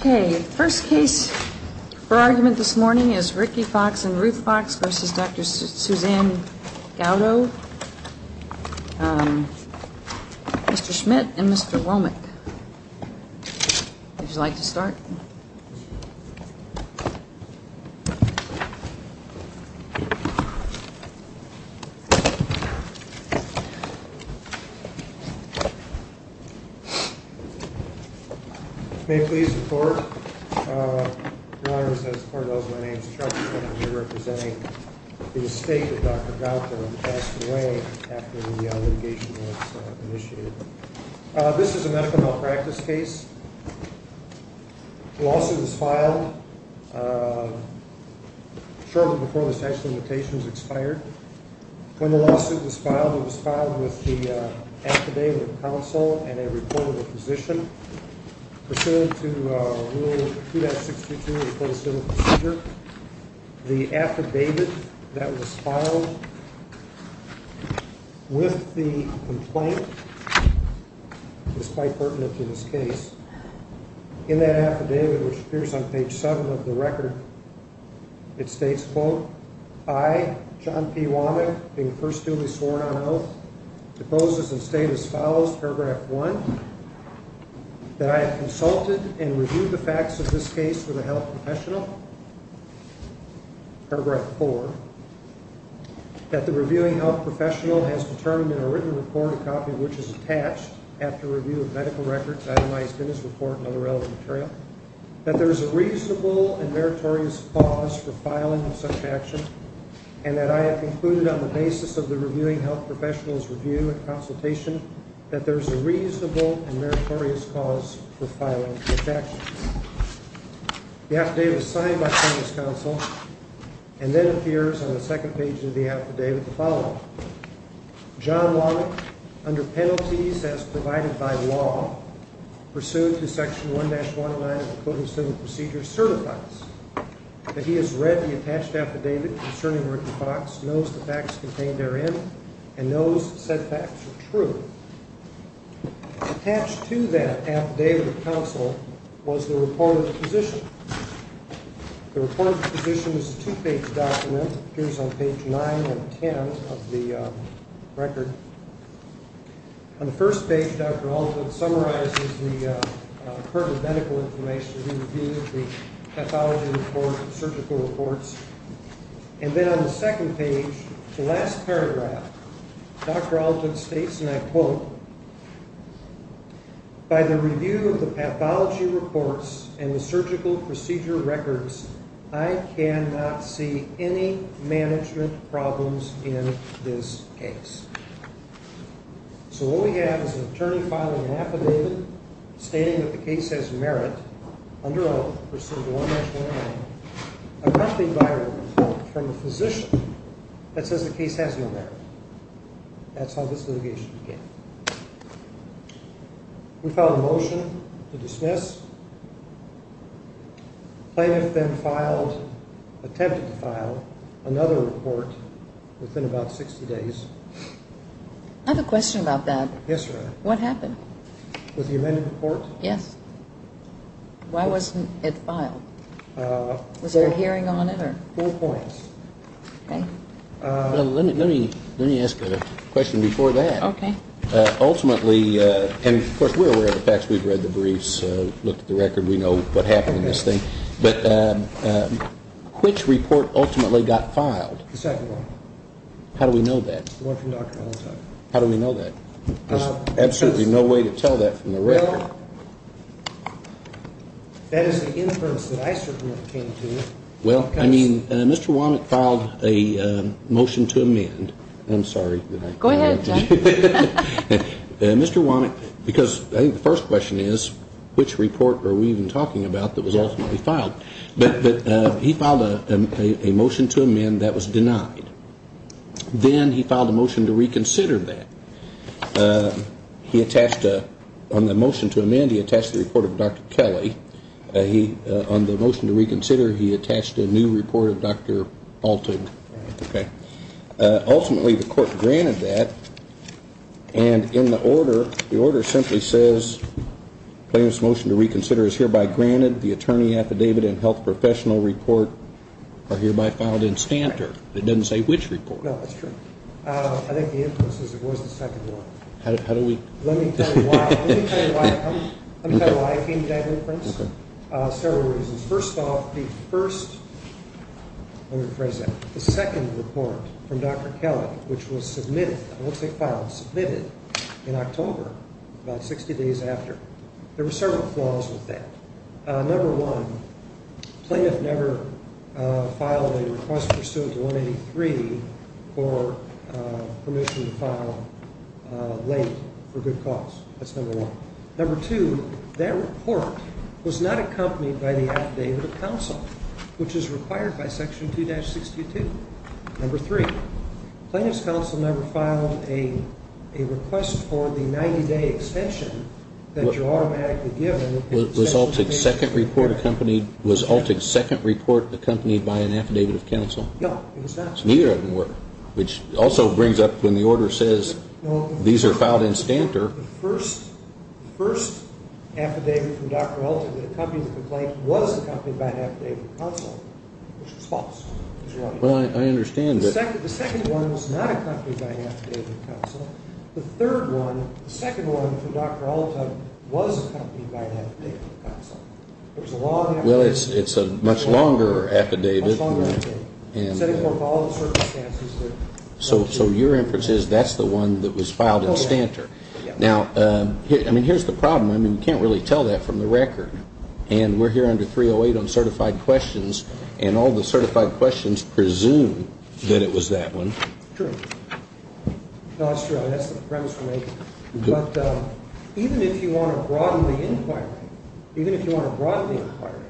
Okay, first case for argument this morning is Ricky Fox and Ruth Fox versus Dr. Suzanne Gauto, Mr. Schmidt and Mr. Womack. Would you like to start? May it please the court. Your Honor, as far as I know, my name is Charles Schmidt and I will be representing the state that Dr. Gauto passed away after the litigation was initiated. This is a medical malpractice case. The lawsuit was filed shortly before the statute of limitations expired. When the lawsuit was filed, it was filed with the affidavit of counsel and a report of a physician pursuant to Rule 262 of the Code of Civil Procedure. The affidavit that was filed with the complaint, despite pertinent to this case, in that affidavit, which appears on page 7 of the record, it states, quote, I, John P. Womack, being first duly sworn on oath, depose this and state as follows, paragraph 1, that I have consulted and reviewed the facts of this case with a health professional, paragraph 4, that the reviewing health professional has determined in a written report, a copy of which is attached after review of medical records, itemized in this report and other relevant material, that there is a reasonable and meritorious cause for filing of such action and that I have concluded on the basis of the reviewing health professional's review and consultation that there is a reasonable and meritorious cause for filing of such action. The affidavit is signed by the plaintiff's counsel and then appears on the second page of the affidavit the following, John Womack, under penalties as provided by law, pursuant to Section 1-109 of the Code of Civil Procedure, certifies that he has read the attached affidavit concerning Ricky Fox, knows the facts contained therein, and knows said facts are true. Attached to that affidavit of counsel was the report of the physician. The report of the physician is a two-page document, appears on page 9 and 10 of the record. On the first page, Dr. Alton summarizes the pertinent medical information that he reviewed, the pathology report, the surgical reports, and then on the second page, the last paragraph, Dr. Alton states, and I quote, By the review of the pathology reports and the surgical procedure records, I cannot see any management problems in this case. So what we have is an attorney filing an affidavit stating that the case has merit, under oath, pursuant to 1-109, accompanied by a report from the physician that says the case has no merit. That's how this litigation began. We filed a motion to dismiss. Plaintiff then filed, attempted to file, another report within about 60 days. I have a question about that. Yes, Your Honor. What happened? With the amended report? Yes. Why wasn't it filed? Was there a hearing on it or? Four points. Okay. Let me ask a question before that. Okay. Ultimately, and of course we're aware of the facts. We've read the briefs, looked at the record. We know what happened in this thing. But which report ultimately got filed? The second one. How do we know that? The one from Dr. Alton. How do we know that? There's absolutely no way to tell that from the record. Well, that is an inference that I certainly came to. Well, I mean, Mr. Womack filed a motion to amend. I'm sorry. Go ahead, John. Mr. Womack, because I think the first question is, which report are we even talking about that was ultimately filed? But he filed a motion to amend that was denied. Then he filed a motion to reconsider that. He attached, on the motion to amend, he attached the report of Dr. Kelly. On the motion to reconsider, he attached a new report of Dr. Alton. Ultimately, the court granted that. And in the order, the order simply says, plaintiff's motion to reconsider is hereby granted. The attorney affidavit and health professional report are hereby filed in standard. It doesn't say which report. No, that's true. I think the inference is it was the second one. How do we? Let me tell you why I came to that inference. Several reasons. First off, the first, let me rephrase that, the second report from Dr. Kelly, which was submitted, looks like filed, submitted in October, about 60 days after. There were several flaws with that. Number one, plaintiff never filed a request pursuant to 183 for permission to file late for good cause. That's number one. Number two, that report was not accompanied by the affidavit of counsel, which is required by Section 2-62. Number three, plaintiff's counsel never filed a request for the 90-day extension that you're automatically given. Was Alton's second report accompanied by an affidavit of counsel? No, it was not. Neither of them were, which also brings up when the order says these are filed in standard. The first affidavit from Dr. Alton that accompanied the complaint was accompanied by an affidavit of counsel, which is false. Well, I understand, but. The second one was not accompanied by an affidavit of counsel. The third one, the second one from Dr. Alton, was accompanied by an affidavit of counsel. There's a law. Well, it's a much longer affidavit. Much longer affidavit. And. Setting forth all the circumstances that. So your inference is that's the one that was filed in standard. Now, I mean, here's the problem. I mean, you can't really tell that from the record. And we're here under 308 on certified questions. And all the certified questions presume that it was that one. True. No, it's true. That's the premise we're making. But even if you want to broaden the inquiry, even if you want to broaden the inquiry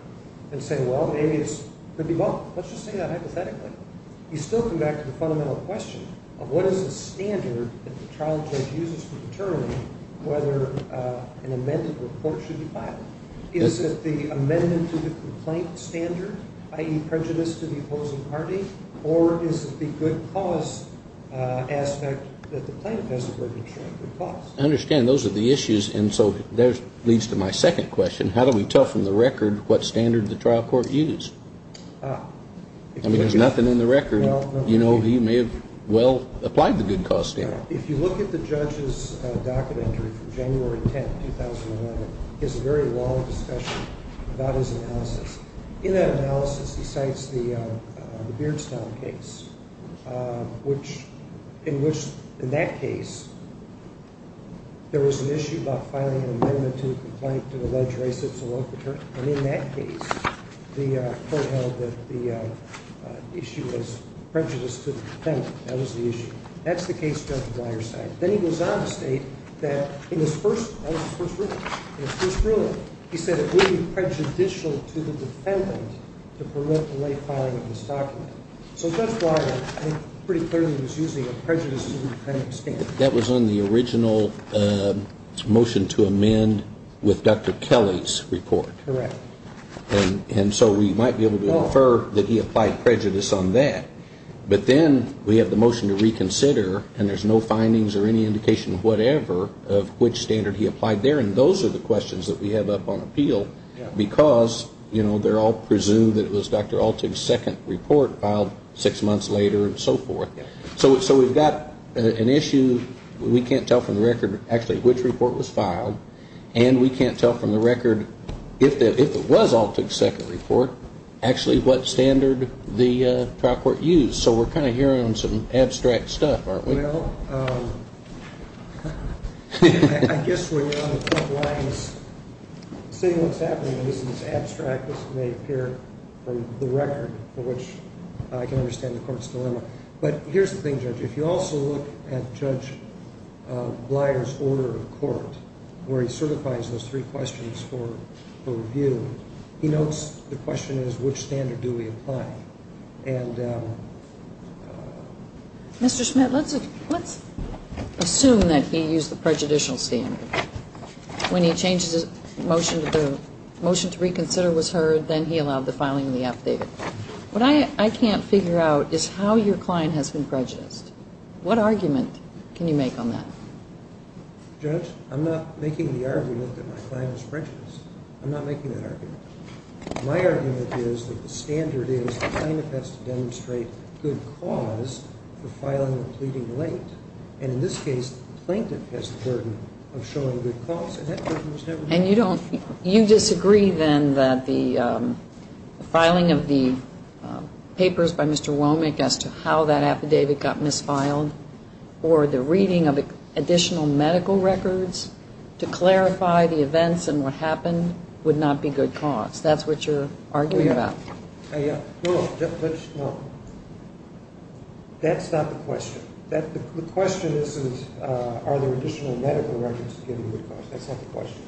and say, well, maybe it's. Well, let's just say that hypothetically. You still come back to the fundamental question of what is the standard that the trial judge uses to determine whether an amended report should be filed. Is it the amendment to the complaint standard, i.e., prejudice to the opposing party? Or is it the good cause aspect that the plaintiff has to work to ensure good cause? I understand. Those are the issues. And so that leads to my second question. How do we tell from the record what standard the trial court used? I mean, there's nothing in the record. You know, he may have well applied the good cause standard. If you look at the judge's docket entry from January 10th, 2011, he has a very long discussion about his analysis. In that analysis, he cites the Beardstown case, in which, in that case, there was an issue about filing an amendment to the complaint And in that case, the court held that the issue was prejudice to the defendant. That was the issue. That's the case Judge Bleier cited. Then he goes on to state that in his first ruling, he said it would be prejudicial to the defendant to permit the late filing of this document. So Judge Bleier pretty clearly was using a prejudice to the defendant standard. That was on the original motion to amend with Dr. Kelly's report. Correct. And so we might be able to infer that he applied prejudice on that. But then we have the motion to reconsider, and there's no findings or any indication, whatever, of which standard he applied there. And those are the questions that we have up on appeal because, you know, they're all presumed that it was Dr. Altig's second report filed six months later and so forth. So we've got an issue. We can't tell from the record actually which report was filed, and we can't tell from the record, if it was Altig's second report, actually what standard the trial court used. So we're kind of hearing some abstract stuff, aren't we? Well, I guess when you're on the front lines, seeing what's happening, this is as abstract as it may appear from the record, for which I can understand the court's dilemma. But here's the thing, Judge. If you also look at Judge Bleier's order of court, where he certifies those three questions for review, he notes the question is which standard do we apply. And Mr. Schmidt, let's assume that he used the prejudicial standard. When he changed the motion to reconsider was heard, then he allowed the filing of the updated. What I can't figure out is how your client has been prejudiced. What argument can you make on that? Judge, I'm not making the argument that my client is prejudiced. I'm not making that argument. My argument is that the standard is the plaintiff has to demonstrate good cause for filing the pleading late. And in this case, the plaintiff has the burden of showing good cause, and that burden is never met. And you disagree, then, that the filing of the papers by Mr. Womack as to how that affidavit got misfiled or the reading of additional medical records to clarify the events and what happened would not be good cause. That's what you're arguing about. No, no. That's not the question. The question isn't are there additional medical records to give you good cause. That's not the question.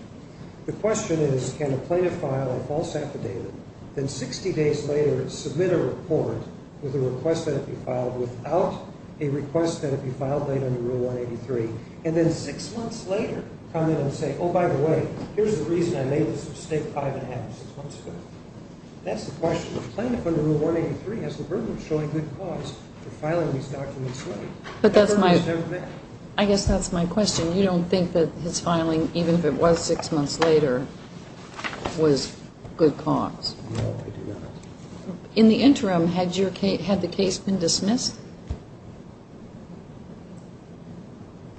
The question is can a plaintiff file a false affidavit, then 60 days later submit a report with a request that it be filed without a request that it be filed late under Rule 183, and then six months later come in and say, oh, by the way, here's the reason I made this mistake five and a half, six months ago. That's the question. If a plaintiff under Rule 183 has the burden of showing good cause for filing these documents late, the burden is never met. I guess that's my question. You don't think that his filing, even if it was six months later, was good cause? No, I do not. In the interim, had the case been dismissed?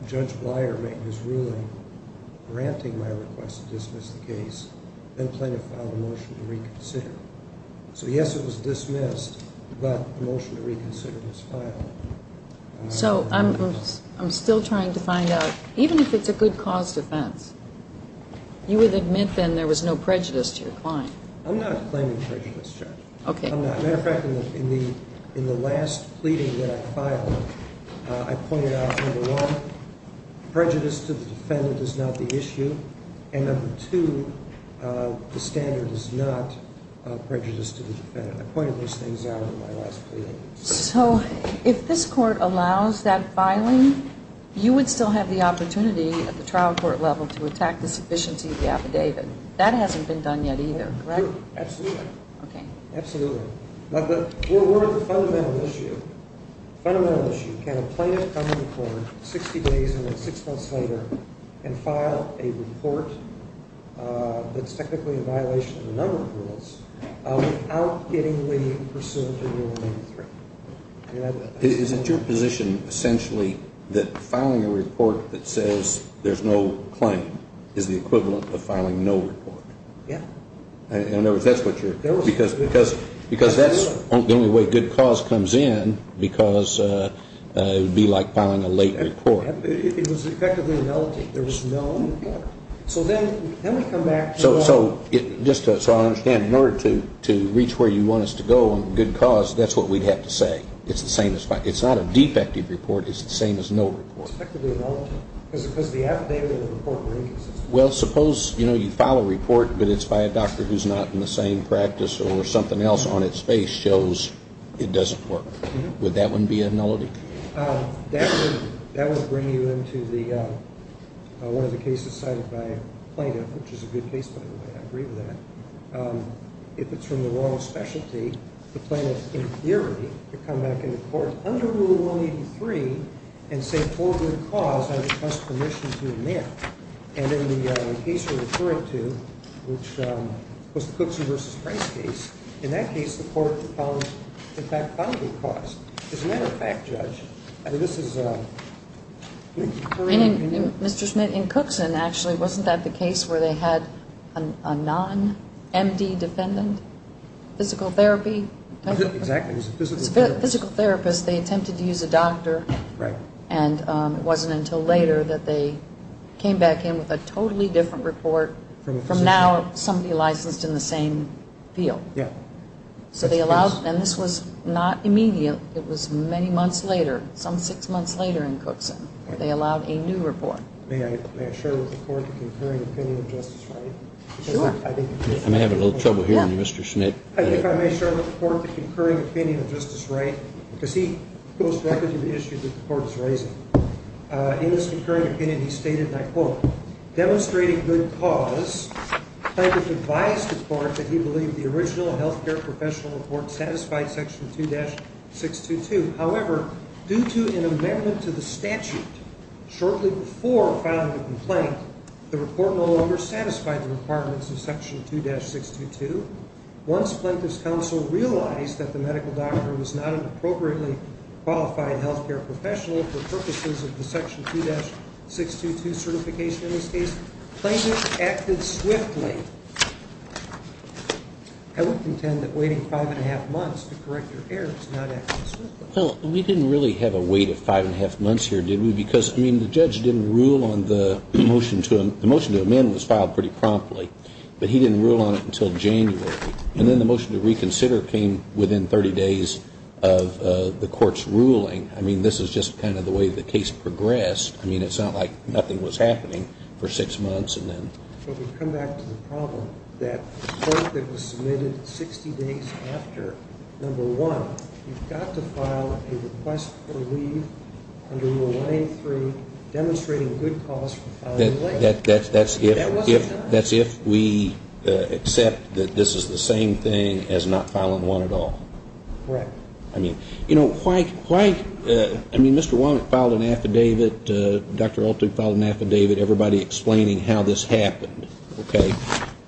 Judge Bleier made his ruling granting my request to dismiss the case, then plaintiff filed a motion to reconsider. So, yes, it was dismissed, but the motion to reconsider was filed. So I'm still trying to find out, even if it's a good cause defense, you would admit then there was no prejudice to your client? I'm not claiming prejudice, Judge. Okay. No, I'm not. As a matter of fact, in the last pleading that I filed, I pointed out, number one, prejudice to the defendant is not the issue, and number two, the standard is not prejudice to the defendant. I pointed those things out in my last pleading. So if this Court allows that filing, you would still have the opportunity at the trial court level to attack the sufficiency of the affidavit. That hasn't been done yet either, correct? Absolutely. Okay. Absolutely. But we're at the fundamental issue. Fundamental issue. Can a plaintiff come to court 60 days and then six months later and file a report that's technically in violation of a number of rules without getting the pursuant to Rule Number 3? Is it your position, essentially, that filing a report that says there's no claim is the equivalent of filing no report? Yeah. In other words, that's what you're ñ because that's the only way good cause comes in, because it would be like filing a late report. It was effectively a nullity. There was no report. So then we come back to that. So just so I understand, in order to reach where you want us to go on good cause, that's what we'd have to say. It's the same as filing. It's not a defective report. It's the same as no report. It's effectively a nullity because the affidavit and the report were inconsistent. Well, suppose, you know, you file a report, but it's by a doctor who's not in the same practice or something else on its face shows it doesn't work. Would that one be a nullity? That would bring you into one of the cases cited by a plaintiff, which is a good case by the way. I agree with that. If it's from the wrong specialty, the plaintiff, in theory, could come back into court under Rule 183 and say, I request permission to admit. And in the case you're referring to, which was the Cookson v. Price case, in that case the court in fact found good cause. As a matter of fact, Judge, I mean, this is... Mr. Schmidt, in Cookson, actually, wasn't that the case where they had a non-M.D. defendant, physical therapy? Exactly. It was a physical therapist. It was a physical therapist. They attempted to use a doctor. Right. And it wasn't until later that they came back in with a totally different report from now somebody licensed in the same field. Yeah. And this was not immediate. It was many months later, some six months later in Cookson. They allowed a new report. May I share with the court the concurring opinion of Justice Wright? Sure. I may have a little trouble hearing Mr. Schmidt. I may share with the court the concurring opinion of Justice Wright because he goes directly to the issue that the court is raising. In his concurring opinion, he stated, and I quote, demonstrating good cause, Planketh advised the court that he believed the original health care professional report satisfied Section 2-622. However, due to an amendment to the statute shortly before filing the complaint, the report no longer satisfied the requirements of Section 2-622. Once Planketh's counsel realized that the medical doctor was not an appropriately qualified health care professional for purposes of the Section 2-622 certification, in this case, Planketh acted swiftly. I would contend that waiting five and a half months to correct your errors is not acting swiftly. Well, we didn't really have a wait of five and a half months here, did we? Because, I mean, the judge didn't rule on the motion to amend was filed pretty promptly, but he didn't rule on it until January. And then the motion to reconsider came within 30 days of the court's ruling. I mean, this is just kind of the way the case progressed. I mean, it's not like nothing was happening for six months and then... But we come back to the problem that the court that was submitted 60 days after, number one, you've got to file a request for leave under Rule 183 demonstrating good cause for filing... That's if we accept that this is the same thing as not filing one at all. Correct. I mean, you know, why... I mean, Mr. Walnut filed an affidavit, Dr. Olten filed an affidavit, everybody explaining how this happened, okay?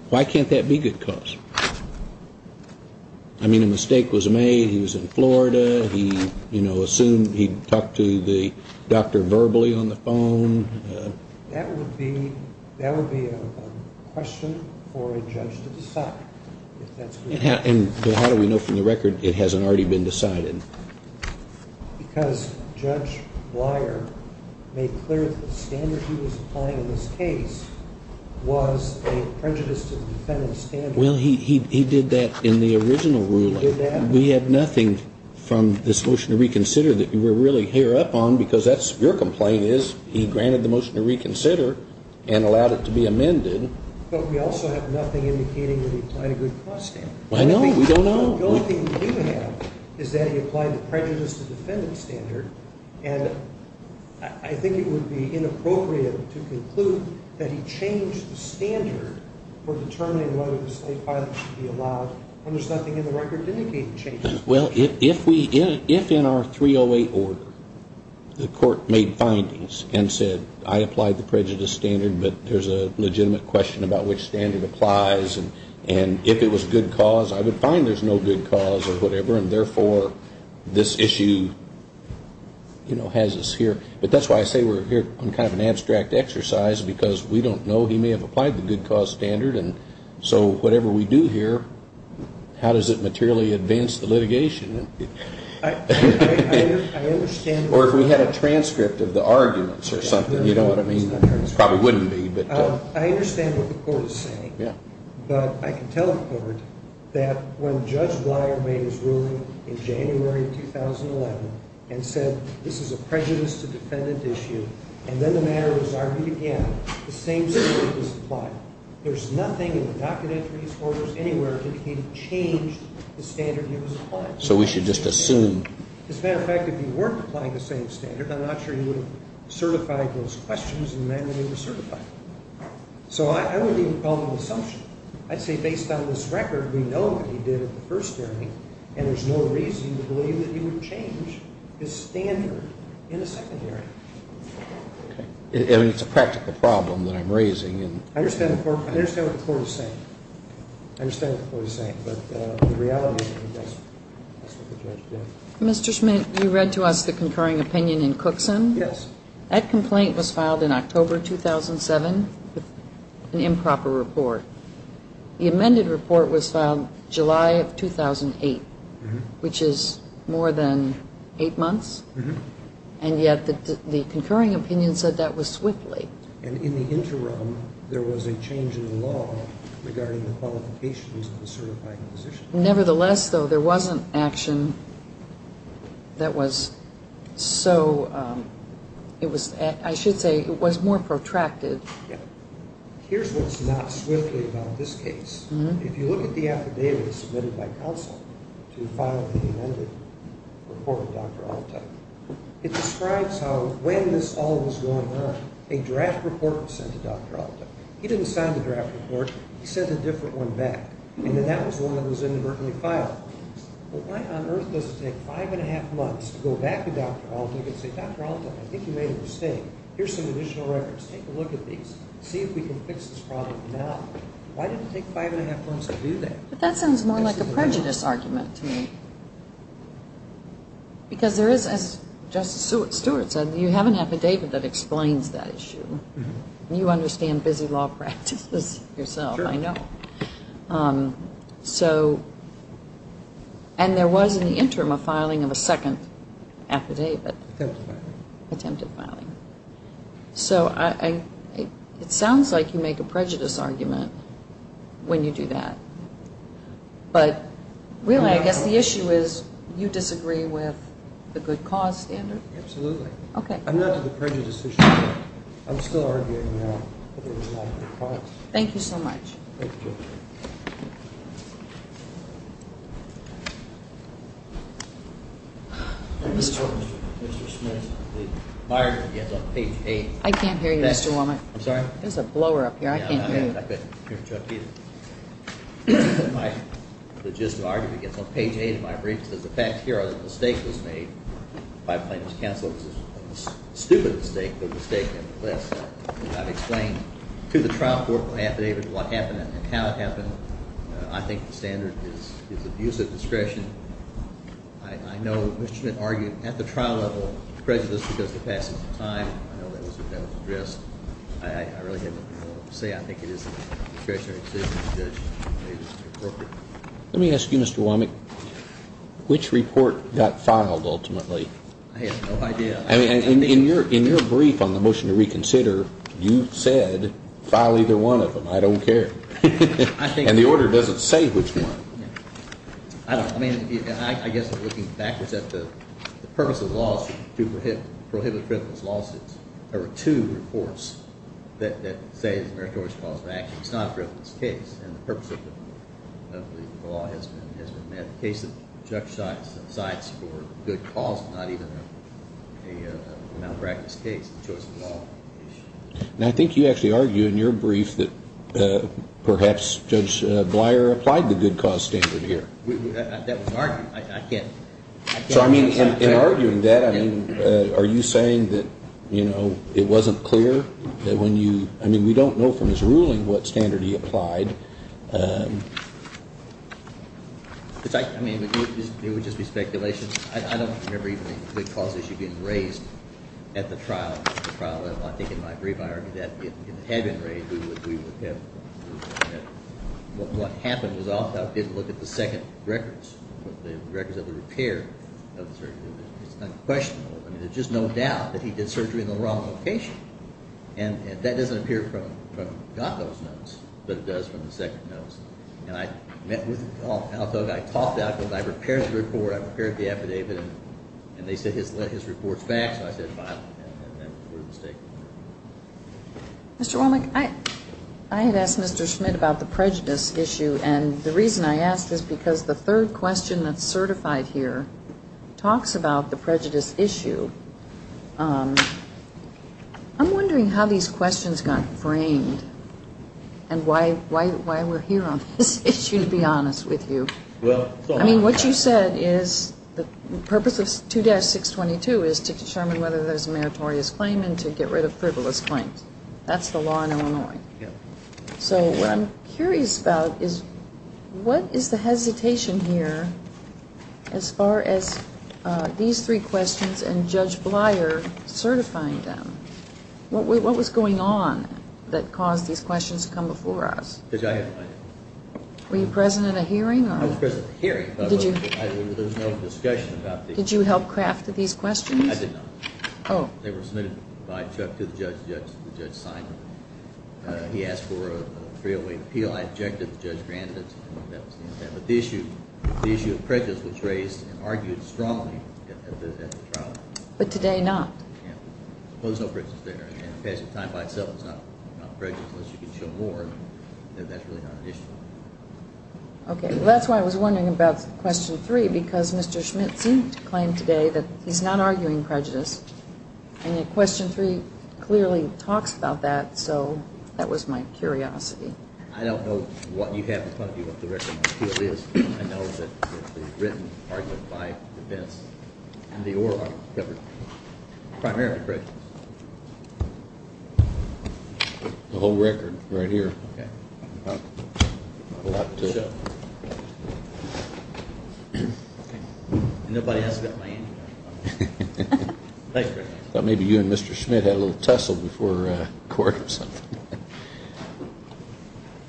Why can't that be good cause? I mean, a mistake was made. He was in Florida. He, you know, assumed he'd talked to the doctor verbally on the phone. That would be a question for a judge to decide if that's... And how do we know from the record it hasn't already been decided? Because Judge Bleier made clear that the standard he was applying in this case was a prejudice to the defendant's standard. Well, he did that in the original ruling. He did that? We have nothing from this motion to reconsider that we're really hereupon because that's your complaint is he granted the motion to reconsider and allowed it to be amended. But we also have nothing indicating that he applied a good cause standard. I know. We don't know. The only thing we do have is that he applied the prejudice to the defendant's standard, and I think it would be inappropriate to conclude that he changed the standard for determining whether the state filing should be allowed when there's nothing in the record indicating changes. Well, if in our 308 order the court made findings and said, I applied the prejudice standard, but there's a legitimate question about which standard applies, and if it was good cause, I would find there's no good cause or whatever, and therefore this issue has us here. But that's why I say we're here on kind of an abstract exercise because we don't know. He may have applied the good cause standard, and so whatever we do here, how does it materially advance the litigation? Or if we had a transcript of the arguments or something, you know what I mean? It probably wouldn't be. I understand what the court is saying, but I can tell the court that when Judge Bleier made his ruling in January 2011 and said this is a prejudice to defendant issue and then the matter was argued again, the same standard was applied. There's nothing in the docket entries or there's anywhere indicating change to the standard he was applying. So we should just assume. As a matter of fact, if he weren't applying the same standard, I'm not sure he would have certified those questions in the manner they were certified. So I wouldn't even call it an assumption. I'd say based on this record, we know what he did at the first hearing, and there's no reason to believe that he would change his standard in the second hearing. Okay. I mean, it's a practical problem that I'm raising. I understand what the court is saying. I understand what the court is saying, but the reality is that that's what the judge did. Mr. Schmidt, you read to us the concurring opinion in Cookson. Yes. That complaint was filed in October 2007 with an improper report. The amended report was filed July of 2008, which is more than eight months, and yet the concurring opinion said that was swiftly. And in the interim, there was a change in the law regarding the qualifications of the certifying physician. Nevertheless, though, there was an action that was so ‑‑ I should say it was more protracted. Here's what's not swiftly about this case. If you look at the affidavit submitted by counsel to file the amended report It describes how when this all was going on, a draft report was sent to Dr. Alta. He didn't sign the draft report. He sent a different one back, and then that was the one that was inadvertently filed. Why on earth does it take five and a half months to go back to Dr. Alta and say, Dr. Alta, I think you made a mistake. Here's some additional records. Take a look at these. See if we can fix this problem now. Why did it take five and a half months to do that? That sounds more like a prejudice argument to me. Because there is, as Justice Stewart said, you have an affidavit that explains that issue. You understand busy law practices yourself, I know. And there was, in the interim, a filing of a second affidavit. Attempted filing. So it sounds like you make a prejudice argument when you do that. But really, I guess the issue is you disagree with the good cause standard. Absolutely. Okay. I'm not to the prejudice issue, but I'm still arguing now that there was not a good cause. Thank you so much. Thank you. Thank you. Mr. Smith, my argument gets on page 8. I can't hear you, Mr. Womack. I'm sorry? There's a blower up here. I can't hear you. I can't hear Chuck either. My logistical argument gets on page 8 of my brief. It says the facts here are that a mistake was made. My claim was canceled. It was a stupid mistake, but a mistake nevertheless. I've explained to the trial court what happened and how it happened. I think the standard is abuse of discretion. I know Mr. Smith argued at the trial level prejudice because of the passage of time. I know that was addressed. I really have nothing more to say. I think it is a discretionary decision. The judge made it appropriate. Let me ask you, Mr. Womack, which report got filed ultimately? I have no idea. In your brief on the motion to reconsider, you said file either one of them. I don't care. And the order doesn't say which one. I don't know. I guess looking backwards at the purpose of the law is to prohibit frivolous lawsuits. There are two reports that say it's a meritorious cause of action. It's not a frivolous case. And the purpose of the law has been met. It's a case that judge decides for good cause, not even a malpractice case. It's a choice of law issue. And I think you actually argue in your brief that perhaps Judge Bleier applied the good cause standard here. That was argued. I can't. So, I mean, in arguing that, I mean, are you saying that, you know, it wasn't clear that when you – I mean, we don't know from his ruling what standard he applied. I mean, it would just be speculation. I don't remember even a good cause issue being raised at the trial level. I think in my brief, I argued that if it had been raised, we would have – what happened was Othoff didn't look at the second records, the records of the repair of the surgery. It's unquestionable. I mean, there's just no doubt that he did surgery in the wrong location. And that doesn't appear from Gotthoff's notes, but it does from the second notes. And I met with Othoff. I talked to Othoff. I repaired the report. I repaired the affidavit. And they said his report's back. So I said, fine. And that was a mistake. Mr. Womack, I had asked Mr. Schmidt about the prejudice issue. And the reason I asked is because the third question that's certified here talks about the prejudice issue. I'm wondering how these questions got framed and why we're here on this issue, to be honest with you. I mean, what you said is the purpose of 2-622 is to determine whether there's a meritorious claim and to get rid of frivolous claims. That's the law in Illinois. So what I'm curious about is what is the hesitation here as far as these three questions and Judge Bleier certifying them? What was going on that caused these questions to come before us? Because I had no idea. Were you present at a hearing? I was present at a hearing. Did you? There was no discussion about these. Did you help craft these questions? I did not. Oh. They were submitted by Chuck to the judge. The judge signed them. He asked for a 308 appeal. I objected. The judge granted it. That was the intent. But the issue of prejudice was raised and argued strongly at the trial. But today not? Yeah. There was no prejudice there. And the passage of time by itself is not prejudice unless you can show more that that's really not an issue. Okay. Well, that's why I was wondering about question three, because Mr. Schmitz seemed to claim today that he's not arguing prejudice. And question three clearly talks about that, so that was my curiosity. I don't know what you have in front of you, what the record material is. I know that it was written, argued by the defense, and the oral argument covered primarily prejudice. The whole record right here. Okay. Well, good luck to you. Okay. And nobody else got my answer. Thanks very much. I thought maybe you and Mr. Schmitz had a little tussle before court or something.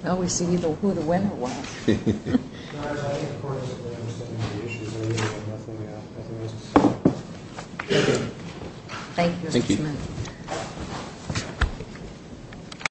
Well, we see either who the winner was. Thank you, Mr. Schmitz. Thank you.